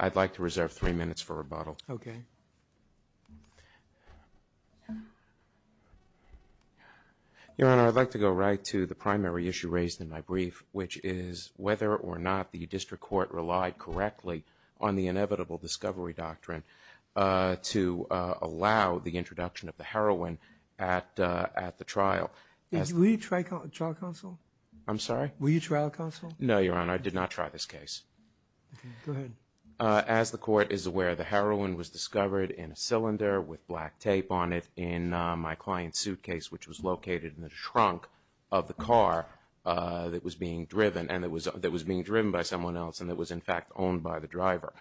I'd like to reserve three minutes for rebuttal. Okay. Your Honor, I'd like to go right to the primary issue raised in my brief, which is whether or not the district court relied correctly on the inevitable discovery doctrine to allow the introduction of the heroin at the trial. Will you trial counsel? I'm sorry? Will you trial counsel? No, Your Honor. I did not try this case. Okay. Go ahead. As the court is aware, the heroin was discovered in a cylinder with black tape on it in my client's suitcase, which was located in the trunk of the car that was being driven, and that was being driven by someone else and that was, in fact, owned by the driver.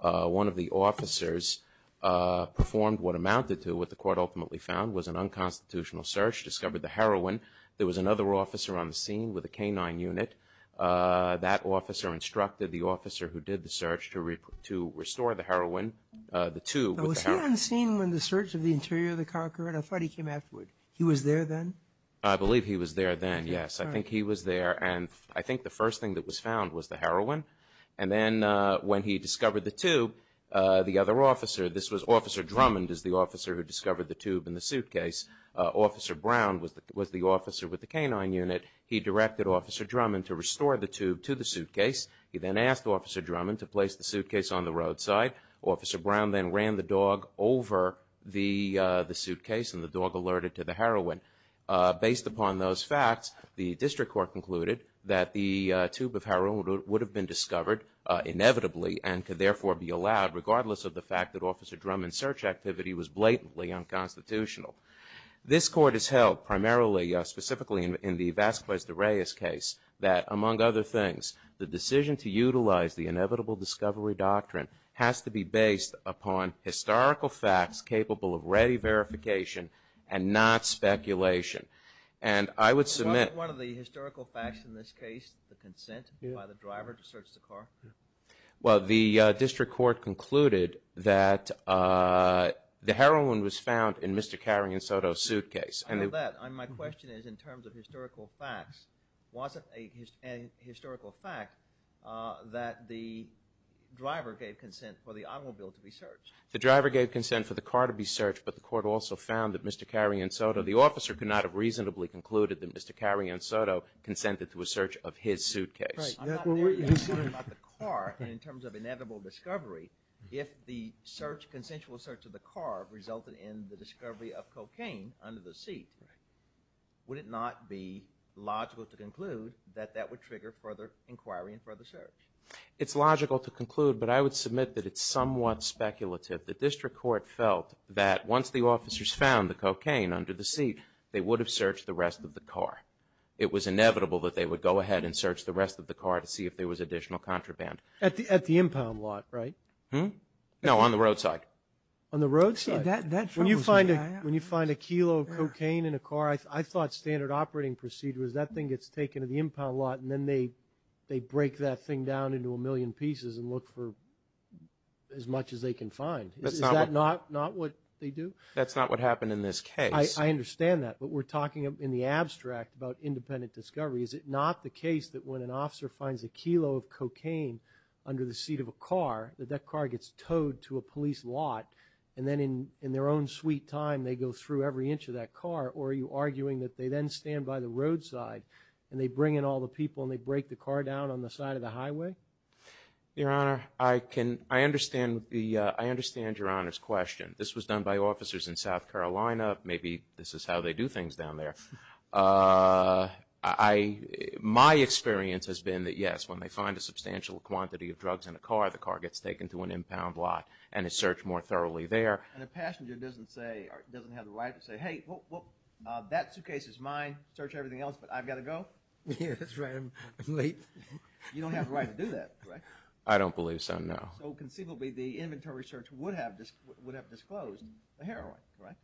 One of the officers performed what amounted to what the court ultimately found was an unconstitutional search, discovered the heroin. There was another officer on the scene with a canine unit. That officer instructed the officer who did the search to restore the heroin, the tube. Was he on the scene when the search of the interior of the car occurred? I thought he came afterward. He was there then? I believe he was there then, yes. I think he was there, and I think the first thing that was found was the heroin. And then when he discovered the tube, the other officer, this was Officer Drummond is the officer who discovered the tube in the suitcase. Officer Brown was the officer with the canine unit. He directed Officer Drummond to restore the tube to the suitcase. He then asked Officer Drummond to place the suitcase on the roadside. Officer Brown then ran the dog over the suitcase, and the dog alerted to the heroin. Based upon those facts, the district court concluded that the tube of heroin would have been discovered inevitably and could therefore be allowed regardless of the fact that Officer Drummond's search activity was blatantly unconstitutional. This court has held primarily, specifically in the Vasquez de Reyes case, that among other things, the decision to utilize the inevitable discovery doctrine has to be based upon historical facts capable of ready verification and not speculation. And I would submit- Wasn't one of the historical facts in this case the consent by the driver to search the car? Well, the district court concluded that the heroin was found in Mr. Carrion Soto's suitcase. I know that. My question is in terms of historical facts, was it a historical fact that the driver gave consent for the automobile to be searched? The driver gave consent for the car to be searched, but the court also found that Mr. Carrion Soto, the officer could not have reasonably concluded that Mr. Carrion Soto consented to a search of his suitcase. Right. I'm not really asking about the car, but in terms of inevitable discovery, if the search, consensual search of the car resulted in the discovery of cocaine under the seat, would it not be logical to conclude that that would trigger further inquiry and further search? It's logical to conclude, but I would submit that it's somewhat speculative. The district court felt that once the officers found the cocaine under the seat, they would have searched the rest of the car. It was inevitable that they would go ahead and search the rest of the car to see if there was additional contraband. At the impound lot, right? No, on the roadside. On the roadside? That troubles me. When you find a kilo of cocaine in a car, I thought standard operating procedures, that thing gets taken to the impound lot and then they break that thing down into a million pieces and look for as much as they can find. Is that not what they do? That's not what happened in this case. I understand that, but we're talking in the abstract about independent discovery. Is it not the case that when an officer finds a kilo of cocaine under the seat of a car, that that car gets towed to a police lot and then in their own sweet time, they go through every inch of that car, or are you arguing that they then stand by the roadside and they bring in all the people and they break the car down on the side of the highway? Your Honor, I understand Your Honor's question. This was done by officers in South Carolina. Maybe this is how they do things down there. My experience has been that, yes, when they find a substantial quantity of drugs in a car, the car gets taken to an impound lot and is searched more thoroughly there. And a passenger doesn't have the right to say, hey, that suitcase is mine, search everything else, but I've got to go? Yes, that's right, I'm late. You don't have the right to do that, correct? I don't believe so, no. So conceivably the inventory search would have disclosed the heroin, correct?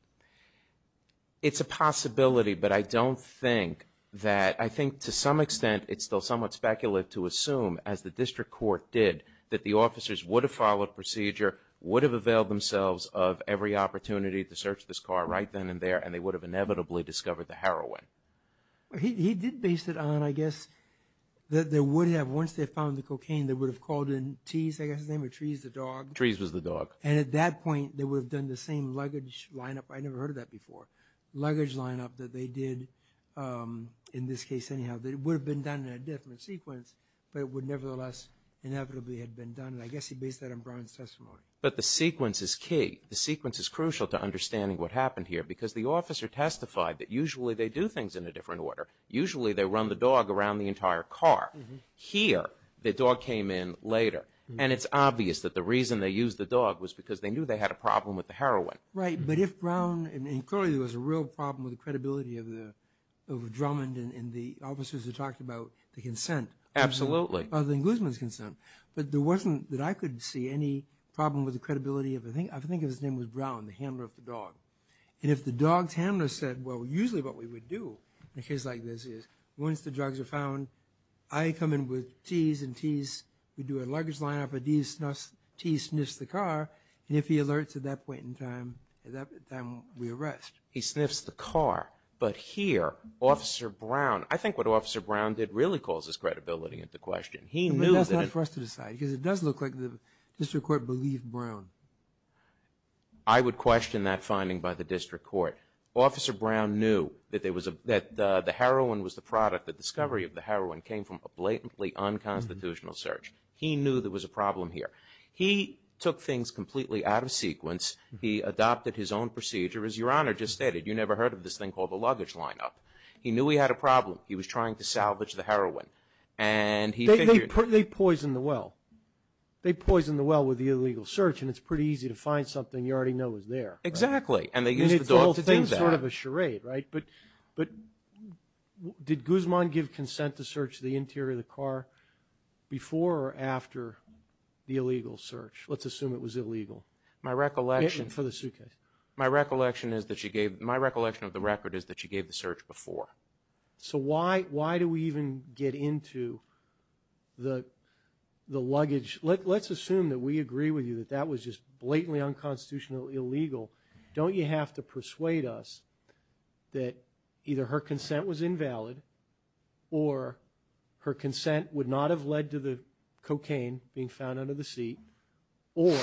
It's a possibility, but I don't think that, I think to some extent, it's still somewhat speculative to assume, as the district court did, that the officers would have followed procedure, would have availed themselves of every opportunity to search this car right then and there, and they would have inevitably discovered the heroin. He did base it on, I guess, that they would have, once they found the cocaine, they would have called in T's, I guess his name, or Trees, the dog. Trees was the dog. And at that point they would have done the same luggage lineup. I never heard of that before. Luggage lineup that they did, in this case anyhow, that would have been done in a different sequence, but it would nevertheless inevitably have been done, and I guess he based that on Brian's testimony. But the sequence is key. The sequence is crucial to understanding what happened here, because the officer testified that usually they do things in a different order. Usually they run the dog around the entire car. Here the dog came in later, and it's obvious that the reason they used the dog was because they knew they had a problem with the heroin. Right. But if Brown, and clearly there was a real problem with the credibility of Drummond and the officers who talked about the consent. Absolutely. Of the englishman's consent. But there wasn't, that I could see, any problem with the credibility of, I think his name was Brown, the handler of the dog. And if the dog's handler said, well, usually what we would do in a case like this is, once the drugs are found, I come in with T's, and T's would do a luggage lineup, and T sniffs the car, and if he alerts at that point in time, then we arrest. He sniffs the car. But here, Officer Brown, I think what Officer Brown did really calls his credibility into question. But that's not for us to decide, because it does look like the district court believed Brown. I would question that finding by the district court. Officer Brown knew that the heroin was the product, the discovery of the heroin came from a blatantly unconstitutional search. He knew there was a problem here. He took things completely out of sequence. He adopted his own procedure, as Your Honor just stated. You never heard of this thing called the luggage lineup. He knew he had a problem. He was trying to salvage the heroin. They poisoned the well. They poisoned the well with the illegal search, and it's pretty easy to find something you already know is there. Exactly. And they used the dog to do that. And it's all things sort of a charade, right? But did Guzman give consent to search the interior of the car before or after the illegal search? Let's assume it was illegal. My recollection of the record is that she gave the search before. So why do we even get into the luggage? Let's assume that we agree with you that that was just blatantly unconstitutional, illegal. Don't you have to persuade us that either her consent was invalid or her consent would not have led to the cocaine being found under the seat or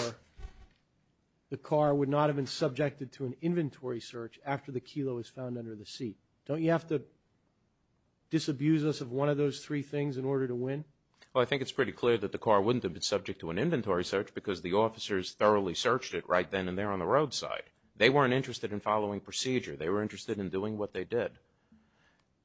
the car would not have been subjected to an inventory search after the kilo was found under the seat? Don't you have to disabuse us of one of those three things in order to win? Well, I think it's pretty clear that the car wouldn't have been subject to an inventory search because the officers thoroughly searched it right then and there on the roadside. They weren't interested in following procedure. They were interested in doing what they did.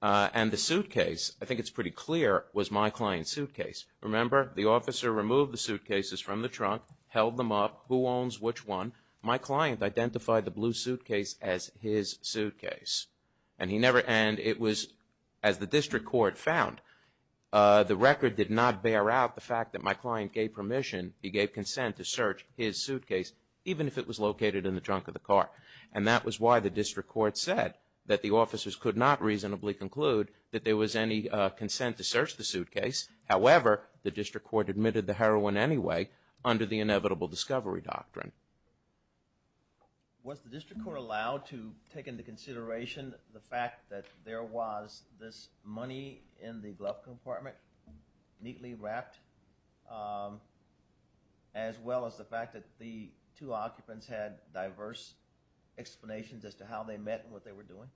And the suitcase, I think it's pretty clear, was my client's suitcase. Remember, the officer removed the suitcases from the trunk, held them up. Who owns which one? My client identified the blue suitcase as his suitcase. And it was, as the district court found, the record did not bear out the fact that my client gave permission, he gave consent to search his suitcase even if it was located in the trunk of the car. And that was why the district court said that the officers could not reasonably conclude that there was any consent to search the suitcase. However, the district court admitted the heroin anyway under the inevitable discovery doctrine. Was the district court allowed to take into consideration the fact that there was this money in the glove compartment, neatly wrapped, as well as the fact that the two occupants had diverse explanations as to how they met and what they were doing?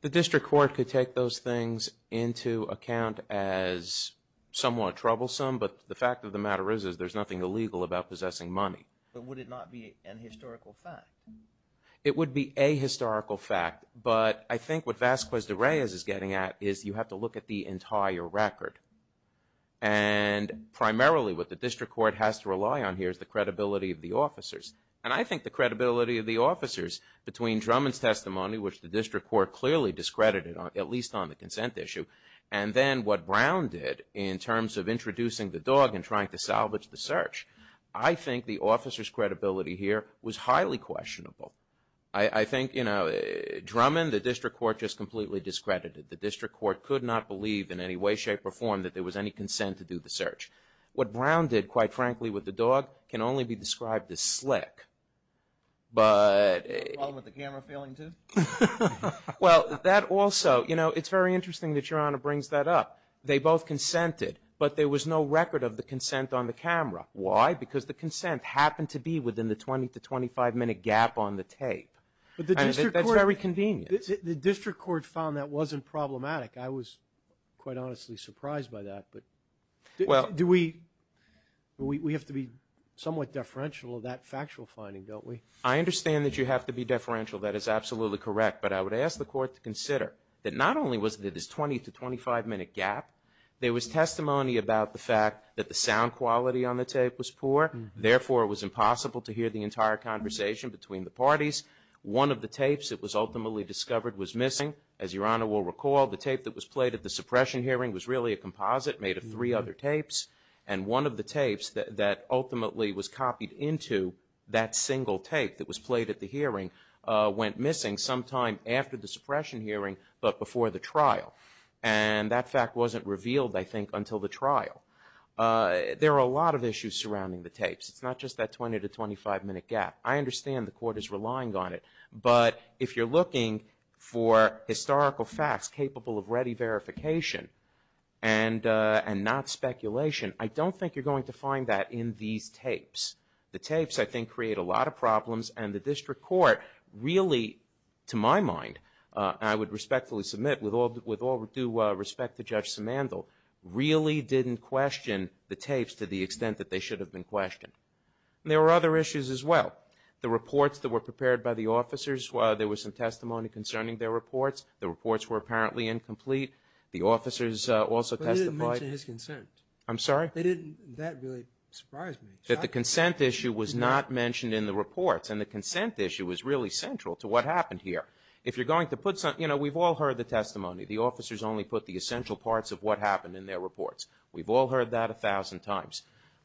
The district court could take those things into account as somewhat troublesome. But the fact of the matter is there's nothing illegal about possessing money. But would it not be a historical fact? It would be a historical fact. But I think what Vasquez de Reyes is getting at is you have to look at the entire record. And primarily what the district court has to rely on here is the credibility of the officers. And I think the credibility of the officers between Drummond's testimony, which the district court clearly discredited, at least on the consent issue, and then what Brown did in terms of introducing the dog and trying to salvage the search, I think the officers' credibility here was highly questionable. I think, you know, Drummond, the district court just completely discredited. The district court could not believe in any way, shape, or form that there was any consent to do the search. What Brown did, quite frankly, with the dog can only be described as slick. But... The problem with the camera failing, too? Well, that also, you know, it's very interesting that Your Honor brings that up. They both consented, but there was no record of the consent on the camera. Why? Because the consent happened to be within the 20- to 25-minute gap on the tape. That's very convenient. The district court found that wasn't problematic. I was quite honestly surprised by that. Do we have to be somewhat deferential of that factual finding, don't we? I understand that you have to be deferential. That is absolutely correct. But I would ask the court to consider that not only was there this 20- to 25-minute gap, there was testimony about the fact that the sound quality on the tape was poor. Therefore, it was impossible to hear the entire conversation between the parties. One of the tapes that was ultimately discovered was missing. As Your Honor will recall, the tape that was played at the suppression hearing was really a composite made of three other tapes. And one of the tapes that ultimately was copied into that single tape that was played at the hearing went missing sometime after the suppression hearing but before the trial. And that fact wasn't revealed, I think, until the trial. There are a lot of issues surrounding the tapes. It's not just that 20- to 25-minute gap. I understand the court is relying on it. But if you're looking for historical facts capable of ready verification and not speculation, I don't think you're going to find that in these tapes. The tapes, I think, create a lot of problems. And the district court really, to my mind, and I would respectfully submit with all due respect to Judge Simandl, really didn't question the tapes to the extent that they should have been questioned. And there were other issues as well. The reports that were prepared by the officers, there was some testimony concerning their reports. The reports were apparently incomplete. The officers also testified. But they didn't mention his consent. I'm sorry? They didn't. That really surprised me. That the consent issue was not mentioned in the reports. And the consent issue was really central to what happened here. If you're going to put something, you know, we've all heard the testimony. The officers only put the essential parts of what happened in their reports. We've all heard that 1,000 times.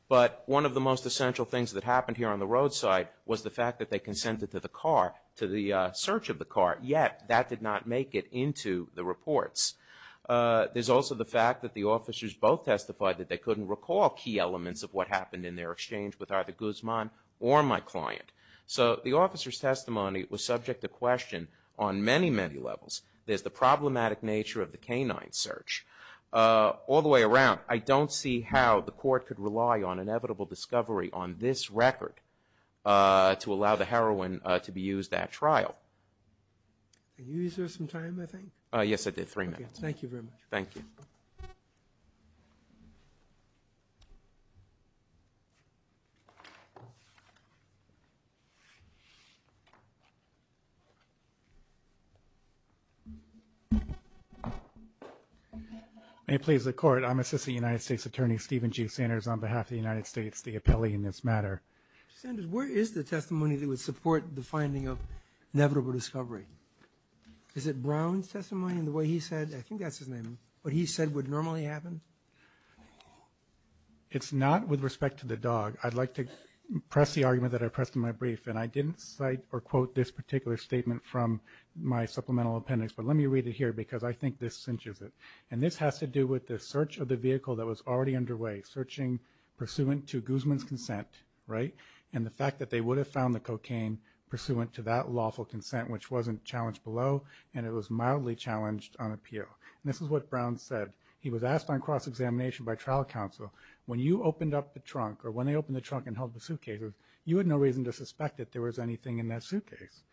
But one of the most essential things that happened here on the roadside was the fact that they consented to the car, to the search of the car, yet that did not make it into the reports. There's also the fact that the officers both testified that they couldn't recall key elements of what happened in their exchange with either Guzman or my client. So the officers' testimony was subject to question on many, many levels. There's the problematic nature of the canine search. All the way around, I don't see how the court could rely on inevitable discovery on this record to allow the heroin to be used at trial. Are you using some time, I think? Yes, I did. Three minutes. Okay. Thank you very much. Thank you. May it please the Court, I'm Assistant United States Attorney Stephen G. Sanders on behalf of the United States, the appellee in this matter. Mr. Sanders, where is the testimony that would support the finding of inevitable discovery? Is it Brown's testimony in the way he said, I think that's his name, what he said would normally happen? It's not with respect to the dog. I'd like to press the argument that I pressed in my brief, and I didn't cite or quote this particular statement from my supplemental appendix, but let me read it here because I think this cinches it. And this has to do with the search of the vehicle that was already underway, searching pursuant to Guzman's consent, right? And the fact that they would have found the cocaine pursuant to that lawful consent, which wasn't challenged below, and it was mildly challenged on appeal. And this is what Brown said. He was asked on cross-examination by trial counsel, when you opened up the trunk, or when they opened the trunk and held the suitcases, you had no reason to suspect that there was anything in that suitcase.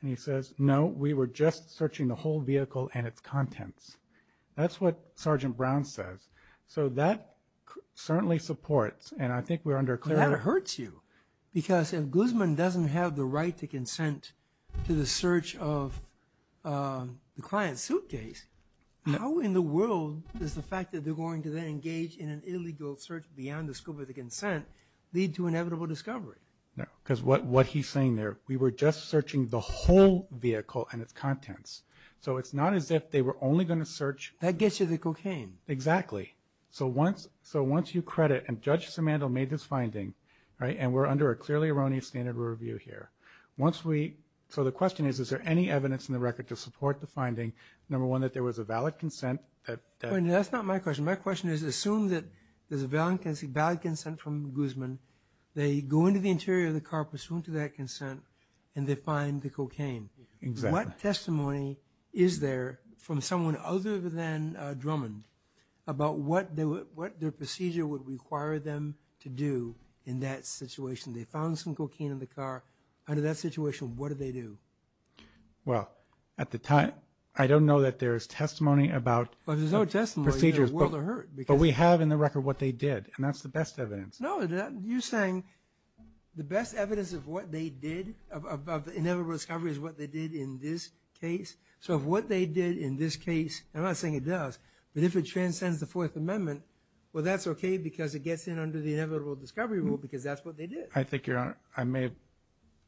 And he says, no, we were just searching the whole vehicle and its contents. That's what Sergeant Brown says. So that certainly supports, and I think we're under clear... But that hurts you because if Guzman doesn't have the right to consent to the search of the client's suitcase, how in the world is the fact that they're going to then engage in an illegal search beyond the scope of the consent lead to inevitable discovery? No, because what he's saying there, we were just searching the whole vehicle and its contents. So it's not as if they were only going to search... That gets you the cocaine. Exactly. So once you credit, and Judge Simandl made this finding, and we're under a clearly erroneous standard of review here. So the question is, is there any evidence in the record to support the finding, number one, that there was a valid consent that... That's not my question. My question is, assume that there's a valid consent from Guzman. They go into the interior of the car pursuant to that consent, and they find the cocaine. Exactly. What testimony is there from someone other than Drummond about what their procedure would require them to do in that situation? They found some cocaine in the car. Under that situation, what do they do? Well, at the time, I don't know that there's testimony about procedures. But there's no testimony in the world of hurt. But we have in the record what they did, and that's the best evidence. No, you're saying the best evidence of what they did, of the inevitable discovery, is what they did in this case? So if what they did in this case, I'm not saying it does, but if it transcends the Fourth Amendment, well, that's okay because it gets in under the inevitable discovery rule because that's what they did. I think, Your Honor, I may,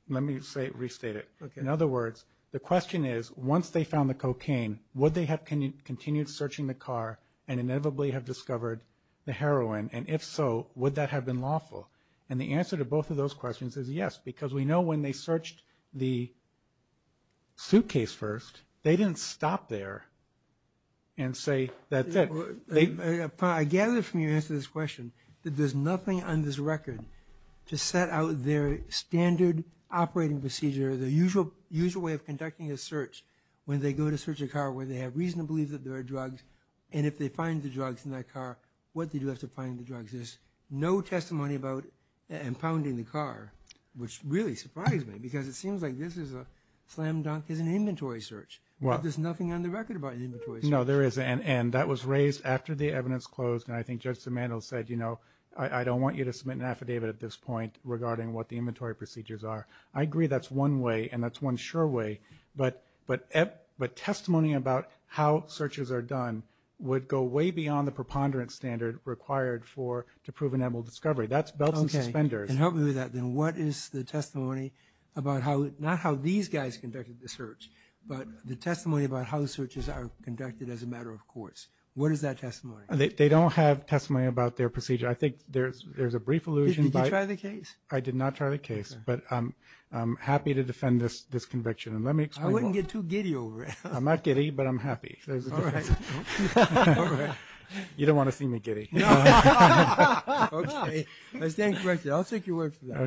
let me restate it. In other words, the question is, once they found the cocaine, would they have continued searching the car and inevitably have discovered the heroin? And if so, would that have been lawful? And the answer to both of those questions is yes because we know when they searched the suitcase first, they didn't stop there and say, that's it. I gather from your answer to this question that there's nothing on this record to set out their standard operating procedure, their usual way of conducting a search when they go to search a car where they have reason to believe that there are drugs, and if they find the drugs in that car, what do they do after finding the drugs? There's no testimony about impounding the car, which really surprised me because it seems like this is a slam dunk, it's an inventory search. There's nothing on the record about an inventory search. No, there isn't, and that was raised after the evidence closed, and I think Judge Simandl said, you know, I don't want you to submit an affidavit at this point regarding what the inventory procedures are. I agree that's one way and that's one sure way, but testimony about how searches are done would go way beyond the preponderance standard required to prove an edible discovery. That's belts and suspenders. Okay, and help me with that. Then what is the testimony about not how these guys conducted the search, but the testimony about how searches are conducted as a matter of course? What is that testimony? They don't have testimony about their procedure. I think there's a brief allusion. Did you try the case? I did not try the case, but I'm happy to defend this conviction, and let me explain why. I wouldn't get too giddy over it. I'm not giddy, but I'm happy. All right. You don't want to see me giddy. No. Okay. I stand corrected. I'll take your word for that.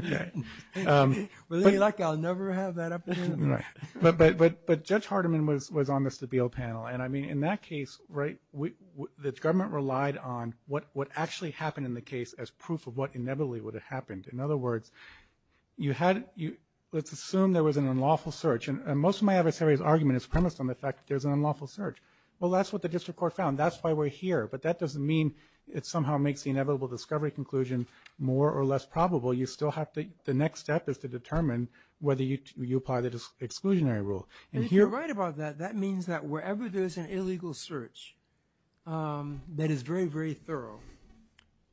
Okay. With any luck, I'll never have that opportunity. But Judge Hardiman was on the Stabile panel, and I mean in that case, right, the government relied on what actually happened in the case as proof of what inevitably would have happened. In other words, you had – let's assume there was an unlawful search, and most of my adversary's argument is premised on the fact that there's an unlawful search. Well, that's what the district court found. That's why we're here. But that doesn't mean it somehow makes the inevitable discovery conclusion more or less probable. The next step is to determine whether you apply the exclusionary rule. And if you're right about that, that means that wherever there's an illegal search that is very, very thorough,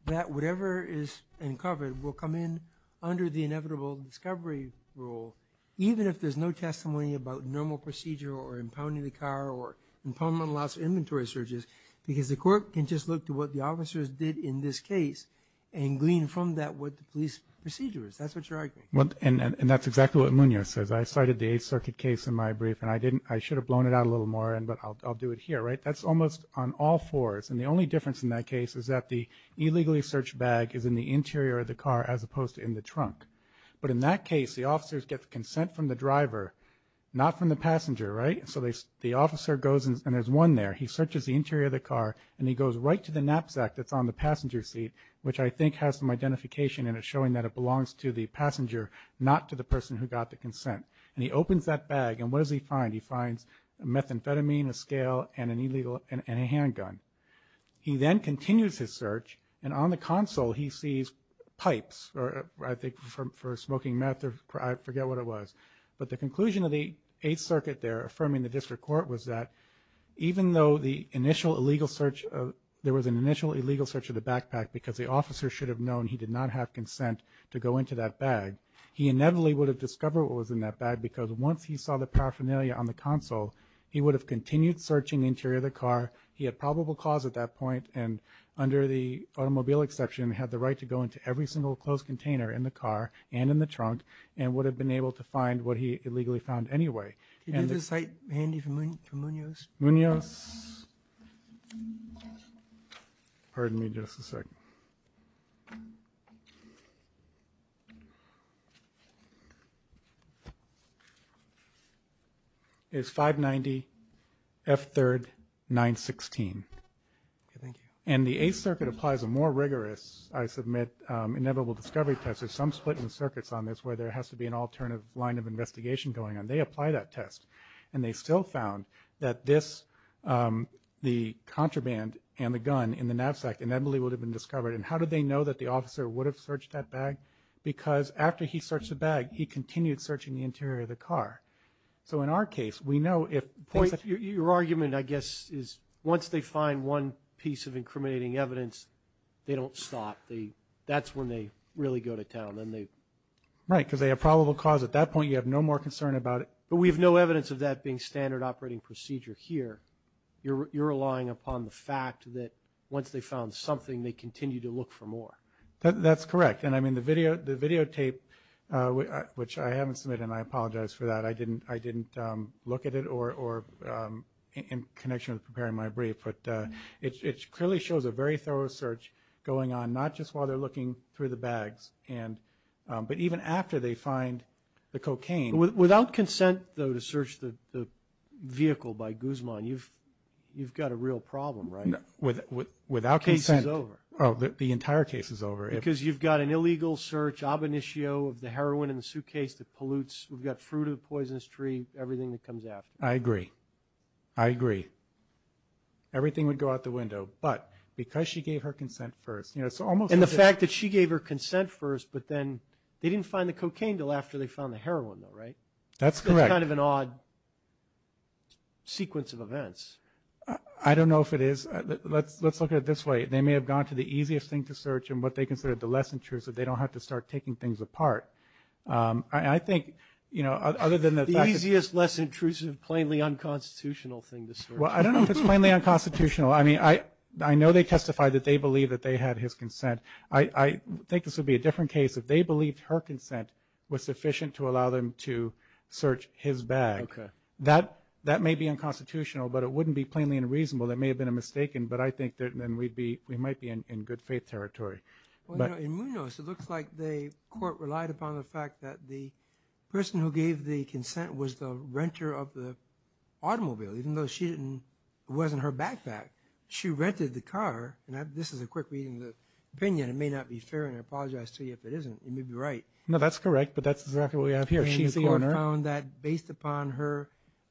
that whatever is uncovered will come in under the inevitable discovery rule, even if there's no testimony about normal procedure or impounding the car or impoundment allows inventory searches, because the court can just look to what the officers did in this case and glean from that what the police procedure is. That's what you're arguing. And that's exactly what Munoz says. I cited the Eighth Circuit case in my brief, and I should have blown it out a little more, but I'll do it here. That's almost on all fours, and the only difference in that case is that the illegally searched bag is in the interior of the car as opposed to in the trunk. But in that case, the officers get the consent from the driver, not from the passenger, right? So the officer goes, and there's one there. He searches the interior of the car, and he goes right to the knapsack that's on the passenger seat, which I think has some identification in it showing that it belongs to the passenger, not to the person who got the consent. And he opens that bag, and what does he find? He finds a methamphetamine, a scale, and a handgun. He then continues his search, and on the console he sees pipes, or I think for smoking meth, or I forget what it was. But the conclusion of the Eighth Circuit there affirming the district court was that even though there was an initial illegal search of the backpack because the officer should have known he did not have consent to go into that bag, he inevitably would have discovered what was in that bag because once he saw the paraphernalia on the console, he would have continued searching the interior of the car. He had probable cause at that point, and under the automobile exception, he had the right to go into every single closed container in the car and in the trunk and would have been able to find what he illegally found anyway. Can you do the site handy for Munoz? Munoz? Pardon me just a second. It's 590 F3 916. Okay, thank you. And the Eighth Circuit applies a more rigorous, I submit, inevitable discovery test. There's some split in the circuits on this where there has to be an alternative line of investigation going on. They apply that test, and they still found that the contraband and the gun in the knapsack inevitably would have been discovered. And how did they know that the officer would have searched that bag? Because after he searched the bag, he continued searching the interior of the car. So in our case, we know if things have... they don't stop. That's when they really go to town. Right, because they have probable cause. At that point, you have no more concern about it. But we have no evidence of that being standard operating procedure here. You're relying upon the fact that once they found something, they continued to look for more. That's correct. And, I mean, the videotape, which I haven't submitted, and I apologize for that. I didn't look at it in connection with preparing my brief. But it clearly shows a very thorough search going on, not just while they're looking through the bags, but even after they find the cocaine. Without consent, though, to search the vehicle by Guzman, you've got a real problem, right? No. Without consent. The case is over. Oh, the entire case is over. Because you've got an illegal search, ab initio of the heroin in the suitcase that pollutes. We've got fruit of the poisonous tree, everything that comes after. I agree. I agree. Everything would go out the window. But because she gave her consent first, you know, it's almost like a – And the fact that she gave her consent first, but then they didn't find the cocaine until after they found the heroin, though, right? That's correct. It's kind of an odd sequence of events. I don't know if it is. Let's look at it this way. They may have gone to the easiest thing to search, and what they considered the less intrusive. I think, you know, other than the fact that – Easiest, less intrusive, plainly unconstitutional thing to search. Well, I don't know if it's plainly unconstitutional. I mean, I know they testified that they believe that they had his consent. I think this would be a different case if they believed her consent was sufficient to allow them to search his bag. That may be unconstitutional, but it wouldn't be plainly unreasonable. That may have been a mistake, but I think then we might be in good faith territory. In Munoz, it looks like the court relied upon the fact that the person who gave the consent was the renter of the automobile, even though she didn't – it wasn't her backpack. She rented the car, and this is a quick reading of the opinion. It may not be fair, and I apologize to you if it isn't. You may be right. No, that's correct, but that's exactly what we have here. She's the owner. And the court found that based upon her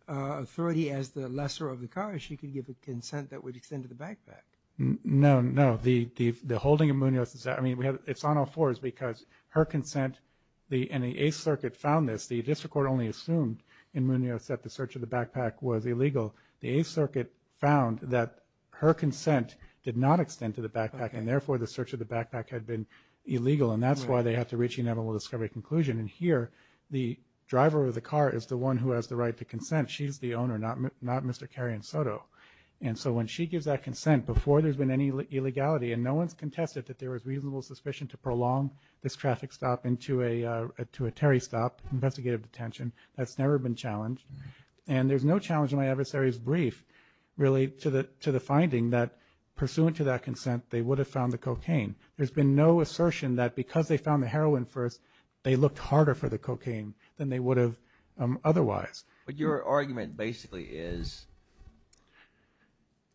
authority as the lessor of the car, she could give a consent that would extend to the backpack. No, no. The holding of Munoz – I mean, it's on all fours because her consent – and the Eighth Circuit found this. The district court only assumed in Munoz that the search of the backpack was illegal. The Eighth Circuit found that her consent did not extend to the backpack, and therefore the search of the backpack had been illegal, and that's why they had to reach a inevitable discovery conclusion. And here the driver of the car is the one who has the right to consent. She's the owner, not Mr. Kary and Soto. And so when she gives that consent before there's been any illegality and no one's contested that there was reasonable suspicion to prolong this traffic stop into a Terry stop, investigative detention, that's never been challenged. And there's no challenge in my adversary's brief, really, to the finding that pursuant to that consent, they would have found the cocaine. There's been no assertion that because they found the heroin first, they looked harder for the cocaine than they would have otherwise. But your argument basically is,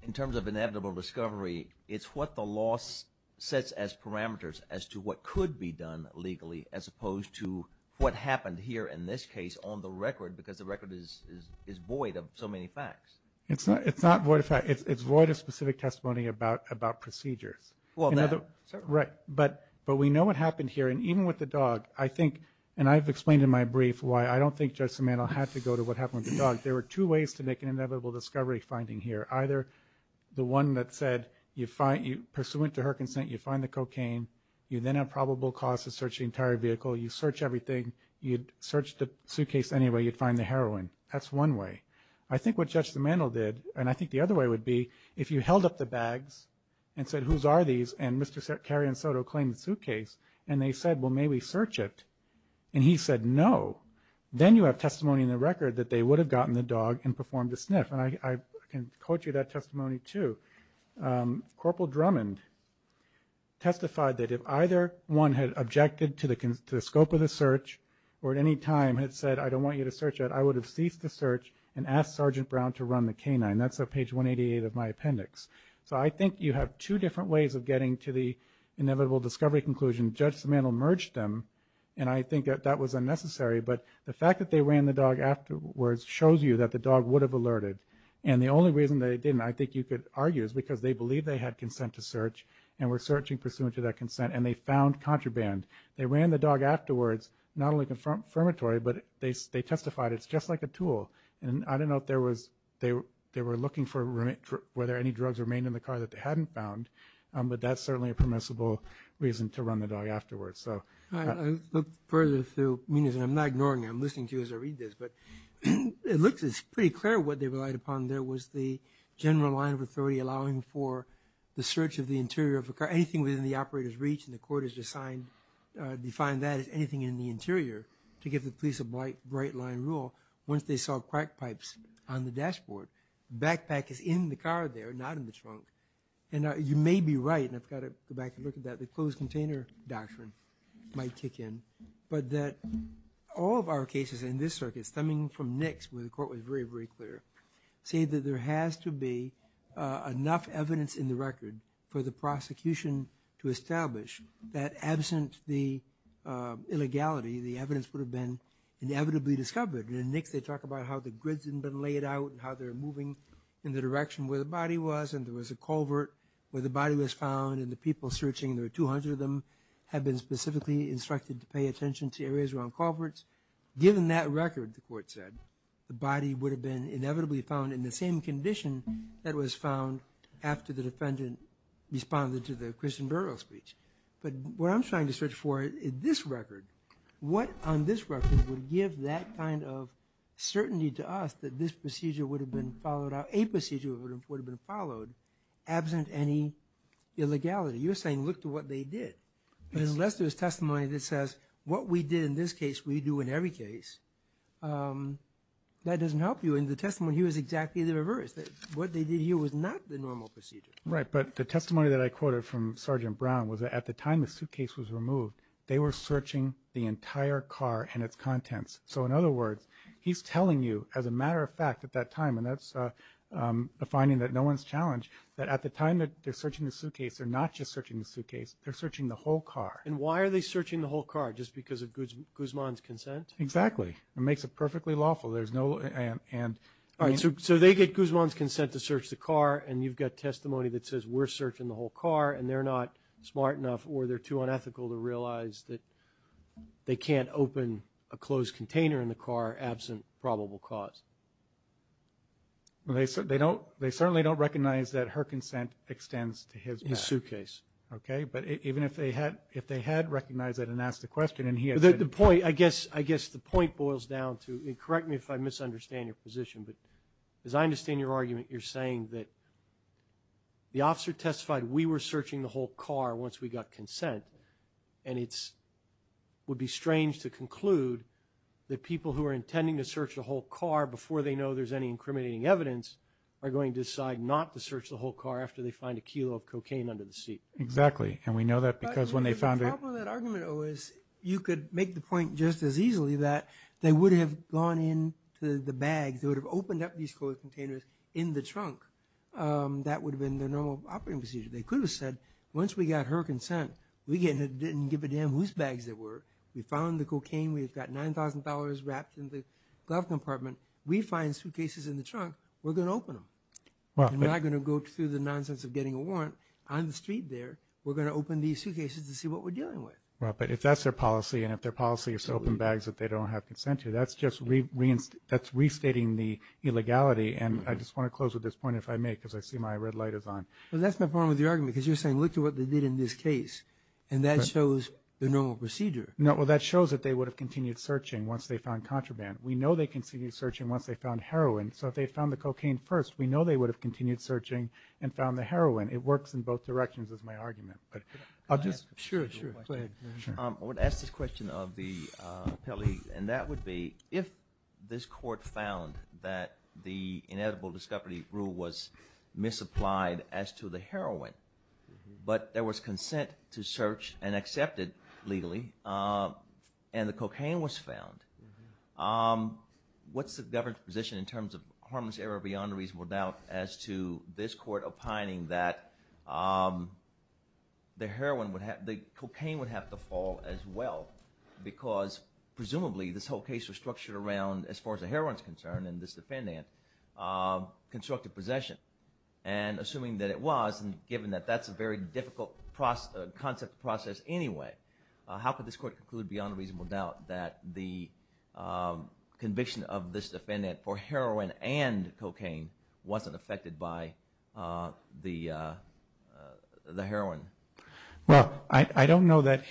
in terms of inevitable discovery, it's what the law sets as parameters as to what could be done legally as opposed to what happened here in this case on the record because the record is void of so many facts. It's not void of facts. It's void of specific testimony about procedures. But we know what happened here, and even with the dog, I think, and I've explained in my brief why I don't think Judge Samanto had to go to what happened with the dog. There were two ways to make an inevitable discovery finding here, either the one that said, pursuant to her consent, you find the cocaine. You then have probable cause to search the entire vehicle. You search everything. You'd search the suitcase anyway. You'd find the heroin. That's one way. I think what Judge Samanto did, and I think the other way would be, if you held up the bags and said, whose are these? And Mr. Karyon Soto claimed the suitcase, and they said, well, may we search it? And he said no. Then you have testimony in the record that they would have gotten the dog and performed a sniff. And I can quote you that testimony too. Corporal Drummond testified that if either one had objected to the scope of the search or at any time had said, I don't want you to search that, I would have ceased the search and asked Sergeant Brown to run the canine. That's at page 188 of my appendix. So I think you have two different ways of getting to the inevitable discovery conclusion. Judge Samanto merged them, and I think that that was unnecessary. But the fact that they ran the dog afterwards shows you that the dog would have alerted. And the only reason they didn't, I think you could argue, is because they believed they had consent to search and were searching pursuant to that consent, and they found contraband. They ran the dog afterwards, not only confirmatory, but they testified it's just like a tool. And I don't know if they were looking for whether any drugs remained in the car that they hadn't found, but that's certainly a permissible reason to run the dog afterwards. I looked further through, and I'm not ignoring it, I'm listening to you as I read this, but it looks pretty clear what they relied upon. There was the general line of authority allowing for the search of the interior of a car, anything within the operator's reach, and the court has defined that as anything in the interior to give the police a bright line rule. Once they saw crack pipes on the dashboard, the backpack is in the car there, not in the trunk. And you may be right, and I've got to go back and look at that, the closed container doctrine might kick in, but that all of our cases in this circuit stemming from NICS, where the court was very, very clear, say that there has to be enough evidence in the record for the prosecution to establish that absent the illegality, the evidence would have been inevitably discovered. And in NICS they talk about how the grids had been laid out and how they're moving in the direction where the body was, and there was a culvert where the body was found, and the people searching, there were 200 of them, had been specifically instructed to pay attention to areas around culverts. Given that record, the court said, the body would have been inevitably found in the same condition that was found after the defendant responded to the Christian Burrill speech. But what I'm trying to search for in this record, what on this record would give that kind of certainty to us that this procedure would have been followed out, a procedure would have been followed absent any illegality? You're saying look to what they did. But unless there's testimony that says what we did in this case we do in every case, that doesn't help you. In the testimony here it's exactly the reverse. What they did here was not the normal procedure. Right, but the testimony that I quoted from Sergeant Brown was that at the time the suitcase was removed, they were searching the entire car and its contents. So in other words, he's telling you as a matter of fact at that time, and that's a finding that no one's challenged, that at the time that they're searching the suitcase, they're not just searching the suitcase, they're searching the whole car. And why are they searching the whole car? Just because of Guzman's consent? Exactly. It makes it perfectly lawful. So they get Guzman's consent to search the car, and you've got testimony that says we're searching the whole car, and they're not smart enough or they're too unethical to realize that they can't open a closed container in the car absent probable cause. They certainly don't recognize that her consent extends to his back. His suitcase. Okay, but even if they had recognized it and asked the question and he had said it. The point, I guess the point boils down to, and correct me if I misunderstand your position, but as I understand your argument, you're saying that the officer testified we were searching the whole car once we got consent, and it would be strange to conclude that people who are intending to search the whole car before they know there's any incriminating evidence are going to decide not to search the whole car after they find a kilo of cocaine under the seat. Exactly, and we know that because when they found it. The problem with that argument, though, is you could make the point just as easily that they would have gone into the bag, they would have opened up these closed containers in the trunk. That would have been the normal operating procedure. They could have said once we got her consent, we didn't give a damn whose bags they were. We found the cocaine. We've got $9,000 wrapped in the glove compartment. We find suitcases in the trunk. We're going to open them. We're not going to go through the nonsense of getting a warrant on the street there. We're going to open these suitcases to see what we're dealing with. Right, but if that's their policy, and if their policy is to open bags that they don't have consent to, that's just restating the illegality, and I just want to close with this point if I may because I see my red light is on. Well, that's my problem with your argument because you're saying look at what they did in this case, and that shows the normal procedure. No, well, that shows that they would have continued searching once they found contraband. We know they continued searching once they found heroin, so if they found the cocaine first, we know they would have continued searching and found the heroin. It works in both directions is my argument. Sure, sure, go ahead. I want to ask this question of the appellee, and that would be if this court found that the inedible discovery rule was misapplied as to the heroin, but there was consent to search and accept it legally, and the cocaine was found, what's the government's position in terms of harmless error beyond reasonable doubt as to this court opining that the cocaine would have to fall as well because presumably this whole case was structured around as far as the heroin is concerned and this defendant constructed possession, and assuming that it was, and given that that's a very difficult concept process anyway, how could this court conclude beyond reasonable doubt that the conviction of this defendant for heroin and cocaine wasn't affected by the heroin? Well, I don't know that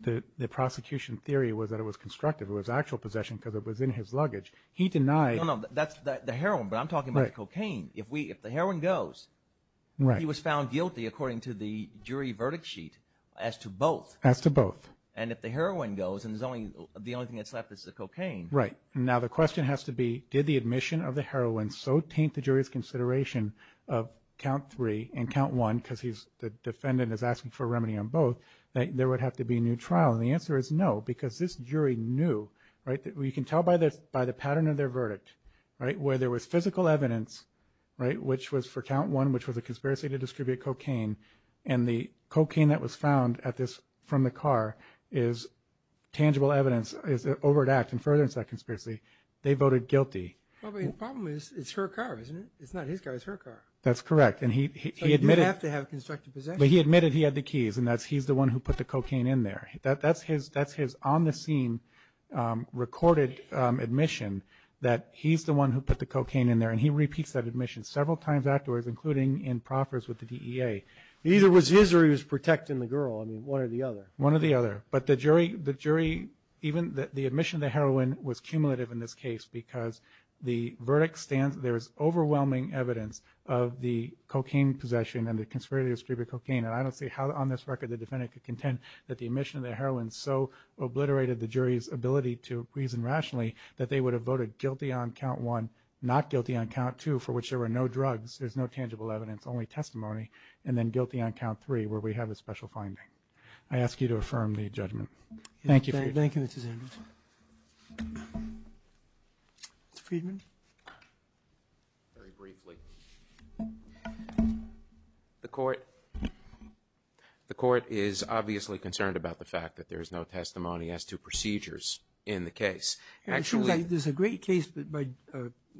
the prosecution theory was that it was constructive. It was actual possession because it was in his luggage. He denied... No, no, that's the heroin, but I'm talking about the cocaine. If the heroin goes, he was found guilty according to the jury verdict sheet as to both. As to both. And if the heroin goes and the only thing that's left is the cocaine... Right. Now the question has to be did the admission of the heroin so taint the jury's consideration of count three and count one because the defendant is asking for remedy on both, that there would have to be a new trial? And the answer is no because this jury knew, right, you can tell by the pattern of their verdict, right, where there was physical evidence, right, which was for count one which was a conspiracy to distribute cocaine, and the cocaine that was found from the car is tangible evidence, is an overt act in furtherance of that conspiracy. They voted guilty. Well, but the problem is it's her car, isn't it? It's not his car, it's her car. That's correct, and he admitted... He didn't have to have constructed possession. But he admitted he had the keys, and that's he's the one who put the cocaine in there. That's his on-the-scene recorded admission that he's the one who put the cocaine in there, and he repeats that admission several times afterwards, including in proffers with the DEA. Either it was his or he was protecting the girl, I mean, one or the other. One or the other. But the jury, even the admission of the heroin was cumulative in this case because the verdict stands, there is overwhelming evidence of the cocaine possession and the conspiracy to distribute cocaine, and I don't see how on this record the defendant could contend that the admission of the heroin so obliterated the jury's ability to reason rationally that they would have voted guilty on count one, not guilty on count two, for which there were no drugs, there's no tangible evidence, only testimony, and then guilty on count three, where we have a special finding. I ask you to affirm the judgment. Thank you. Thank you, Mr. Zandos. Mr. Friedman. Very briefly. The court is obviously concerned about the fact that there is no testimony as to procedures in the case. It seems like there's a great case, the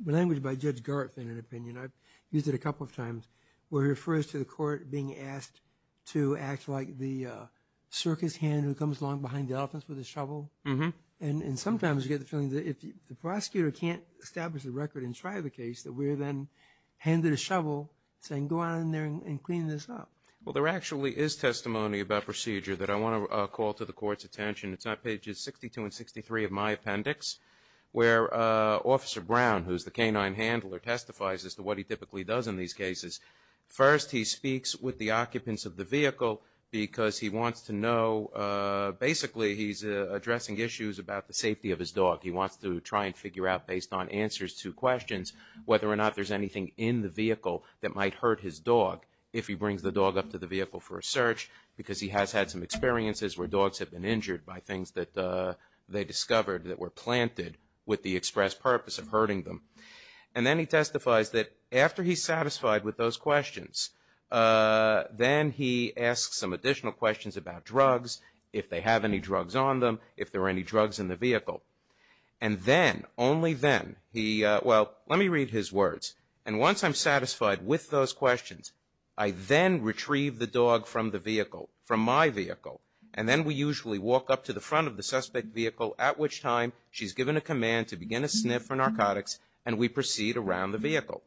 language by Judge Garth, in an opinion, I've used it a couple of times, where he refers to the court being asked to act like the circus hand who comes along behind the elephants with a shovel, and sometimes you get the feeling that if the prosecutor can't establish the record and try the case, that we're then handed a shovel saying, go on in there and clean this up. Well, there actually is testimony about procedure that I want to call to the court's attention. It's on pages 62 and 63 of my appendix, where Officer Brown, who's the canine handler, testifies as to what he typically does in these cases. First, he speaks with the occupants of the vehicle because he wants to know, basically he's addressing issues about the safety of his dog. He wants to try and figure out, based on answers to questions, whether or not there's anything in the vehicle that might hurt his dog if he brings the dog up to the vehicle for a search, because he has had some experiences where dogs have been injured by things that they discovered that were planted with the express purpose of hurting them. And then he testifies that after he's satisfied with those questions, then he asks some additional questions about drugs, if they have any drugs on them, if there are any drugs in the vehicle. And then, only then, he, well, let me read his words. And once I'm satisfied with those questions, I then retrieve the dog from the vehicle, from my vehicle, and then we usually walk up to the front of the suspect vehicle, at which time she's given a command to begin a sniff for narcotics, and we proceed around the vehicle.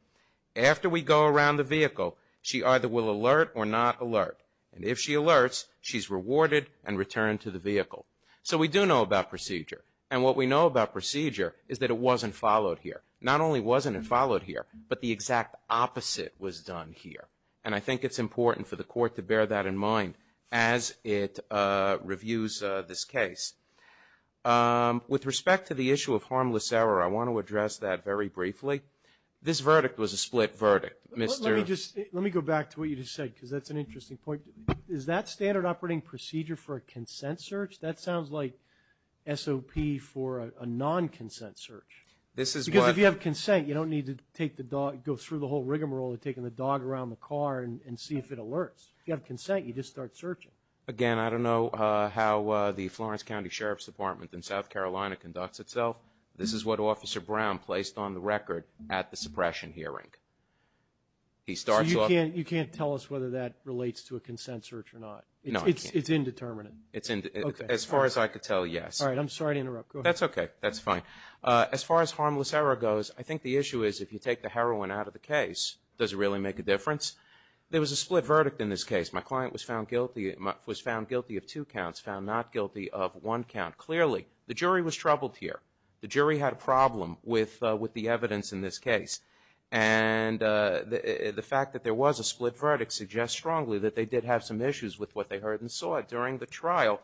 After we go around the vehicle, she either will alert or not alert. And if she alerts, she's rewarded and returned to the vehicle. So we do know about procedure. And what we know about procedure is that it wasn't followed here. Not only wasn't it followed here, but the exact opposite was done here. And I think it's important for the court to bear that in mind as it reviews this case. With respect to the issue of harmless error, I want to address that very briefly. This verdict was a split verdict. Let me go back to what you just said, because that's an interesting point. Is that standard operating procedure for a consent search? That sounds like SOP for a non-consent search. Because if you have consent, you don't need to go through the whole rigmarole of taking the dog around the car and see if it alerts. If you have consent, you just start searching. Again, I don't know how the Florence County Sheriff's Department in South Carolina conducts itself. This is what Officer Brown placed on the record at the suppression hearing. So you can't tell us whether that relates to a consent search or not? No, I can't. It's indeterminate? As far as I could tell, yes. All right, I'm sorry to interrupt. Go ahead. That's okay. That's fine. As far as harmless error goes, I think the issue is if you take the heroin out of the case, does it really make a difference? There was a split verdict in this case. My client was found guilty of two counts, found not guilty of one count. Clearly, the jury was troubled here. The jury had a problem with the evidence in this case. And the fact that there was a split verdict suggests strongly that they did have some issues with what they heard and saw during the trial.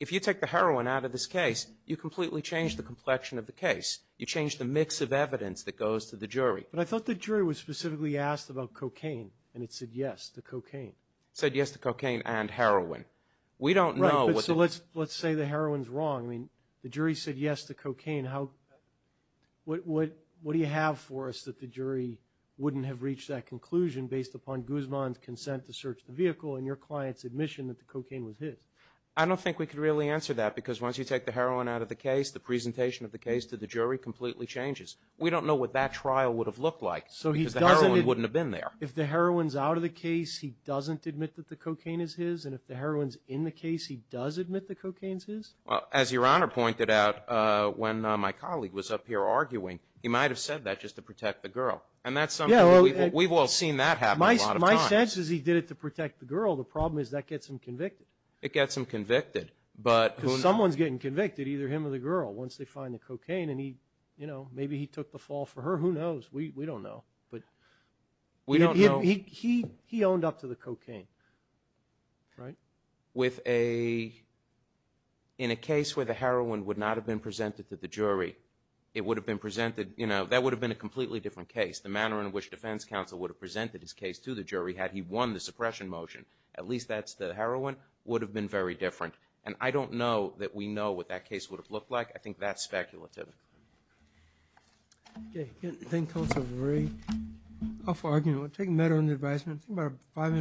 If you take the heroin out of this case, you completely change the complexion of the case. You change the mix of evidence that goes to the jury. But I thought the jury was specifically asked about cocaine, and it said yes to cocaine. It said yes to cocaine and heroin. We don't know. Right, but so let's say the heroin's wrong. I mean, the jury said yes to cocaine. What do you have for us that the jury wouldn't have reached that conclusion based upon Guzman's consent to search the vehicle and your client's admission that the cocaine was his? I don't think we could really answer that because once you take the heroin out of the case, the presentation of the case to the jury completely changes. We don't know what that trial would have looked like because the heroin wouldn't have been there. If the heroin's out of the case, he doesn't admit that the cocaine is his, and if the heroin's in the case, he does admit the cocaine's his? Well, as Your Honor pointed out when my colleague was up here arguing, he might have said that just to protect the girl. And that's something we've all seen that happen a lot of times. My sense is he did it to protect the girl. The problem is that gets him convicted. It gets him convicted. Because someone's getting convicted, either him or the girl, once they find the cocaine, and maybe he took the fall for her. Who knows? We don't know. He owned up to the cocaine, right? In a case where the heroin would not have been presented to the jury, it would have been presented, you know, that would have been a completely different case. The manner in which defense counsel would have presented his case to the jury had he won the suppression motion, at least that's the heroin, would have been very different. And I don't know that we know what that case would have looked like. I think that's speculative. Okay. Thank you, Counselor Murray. I'll take a minute on the advisement. I think about five minutes.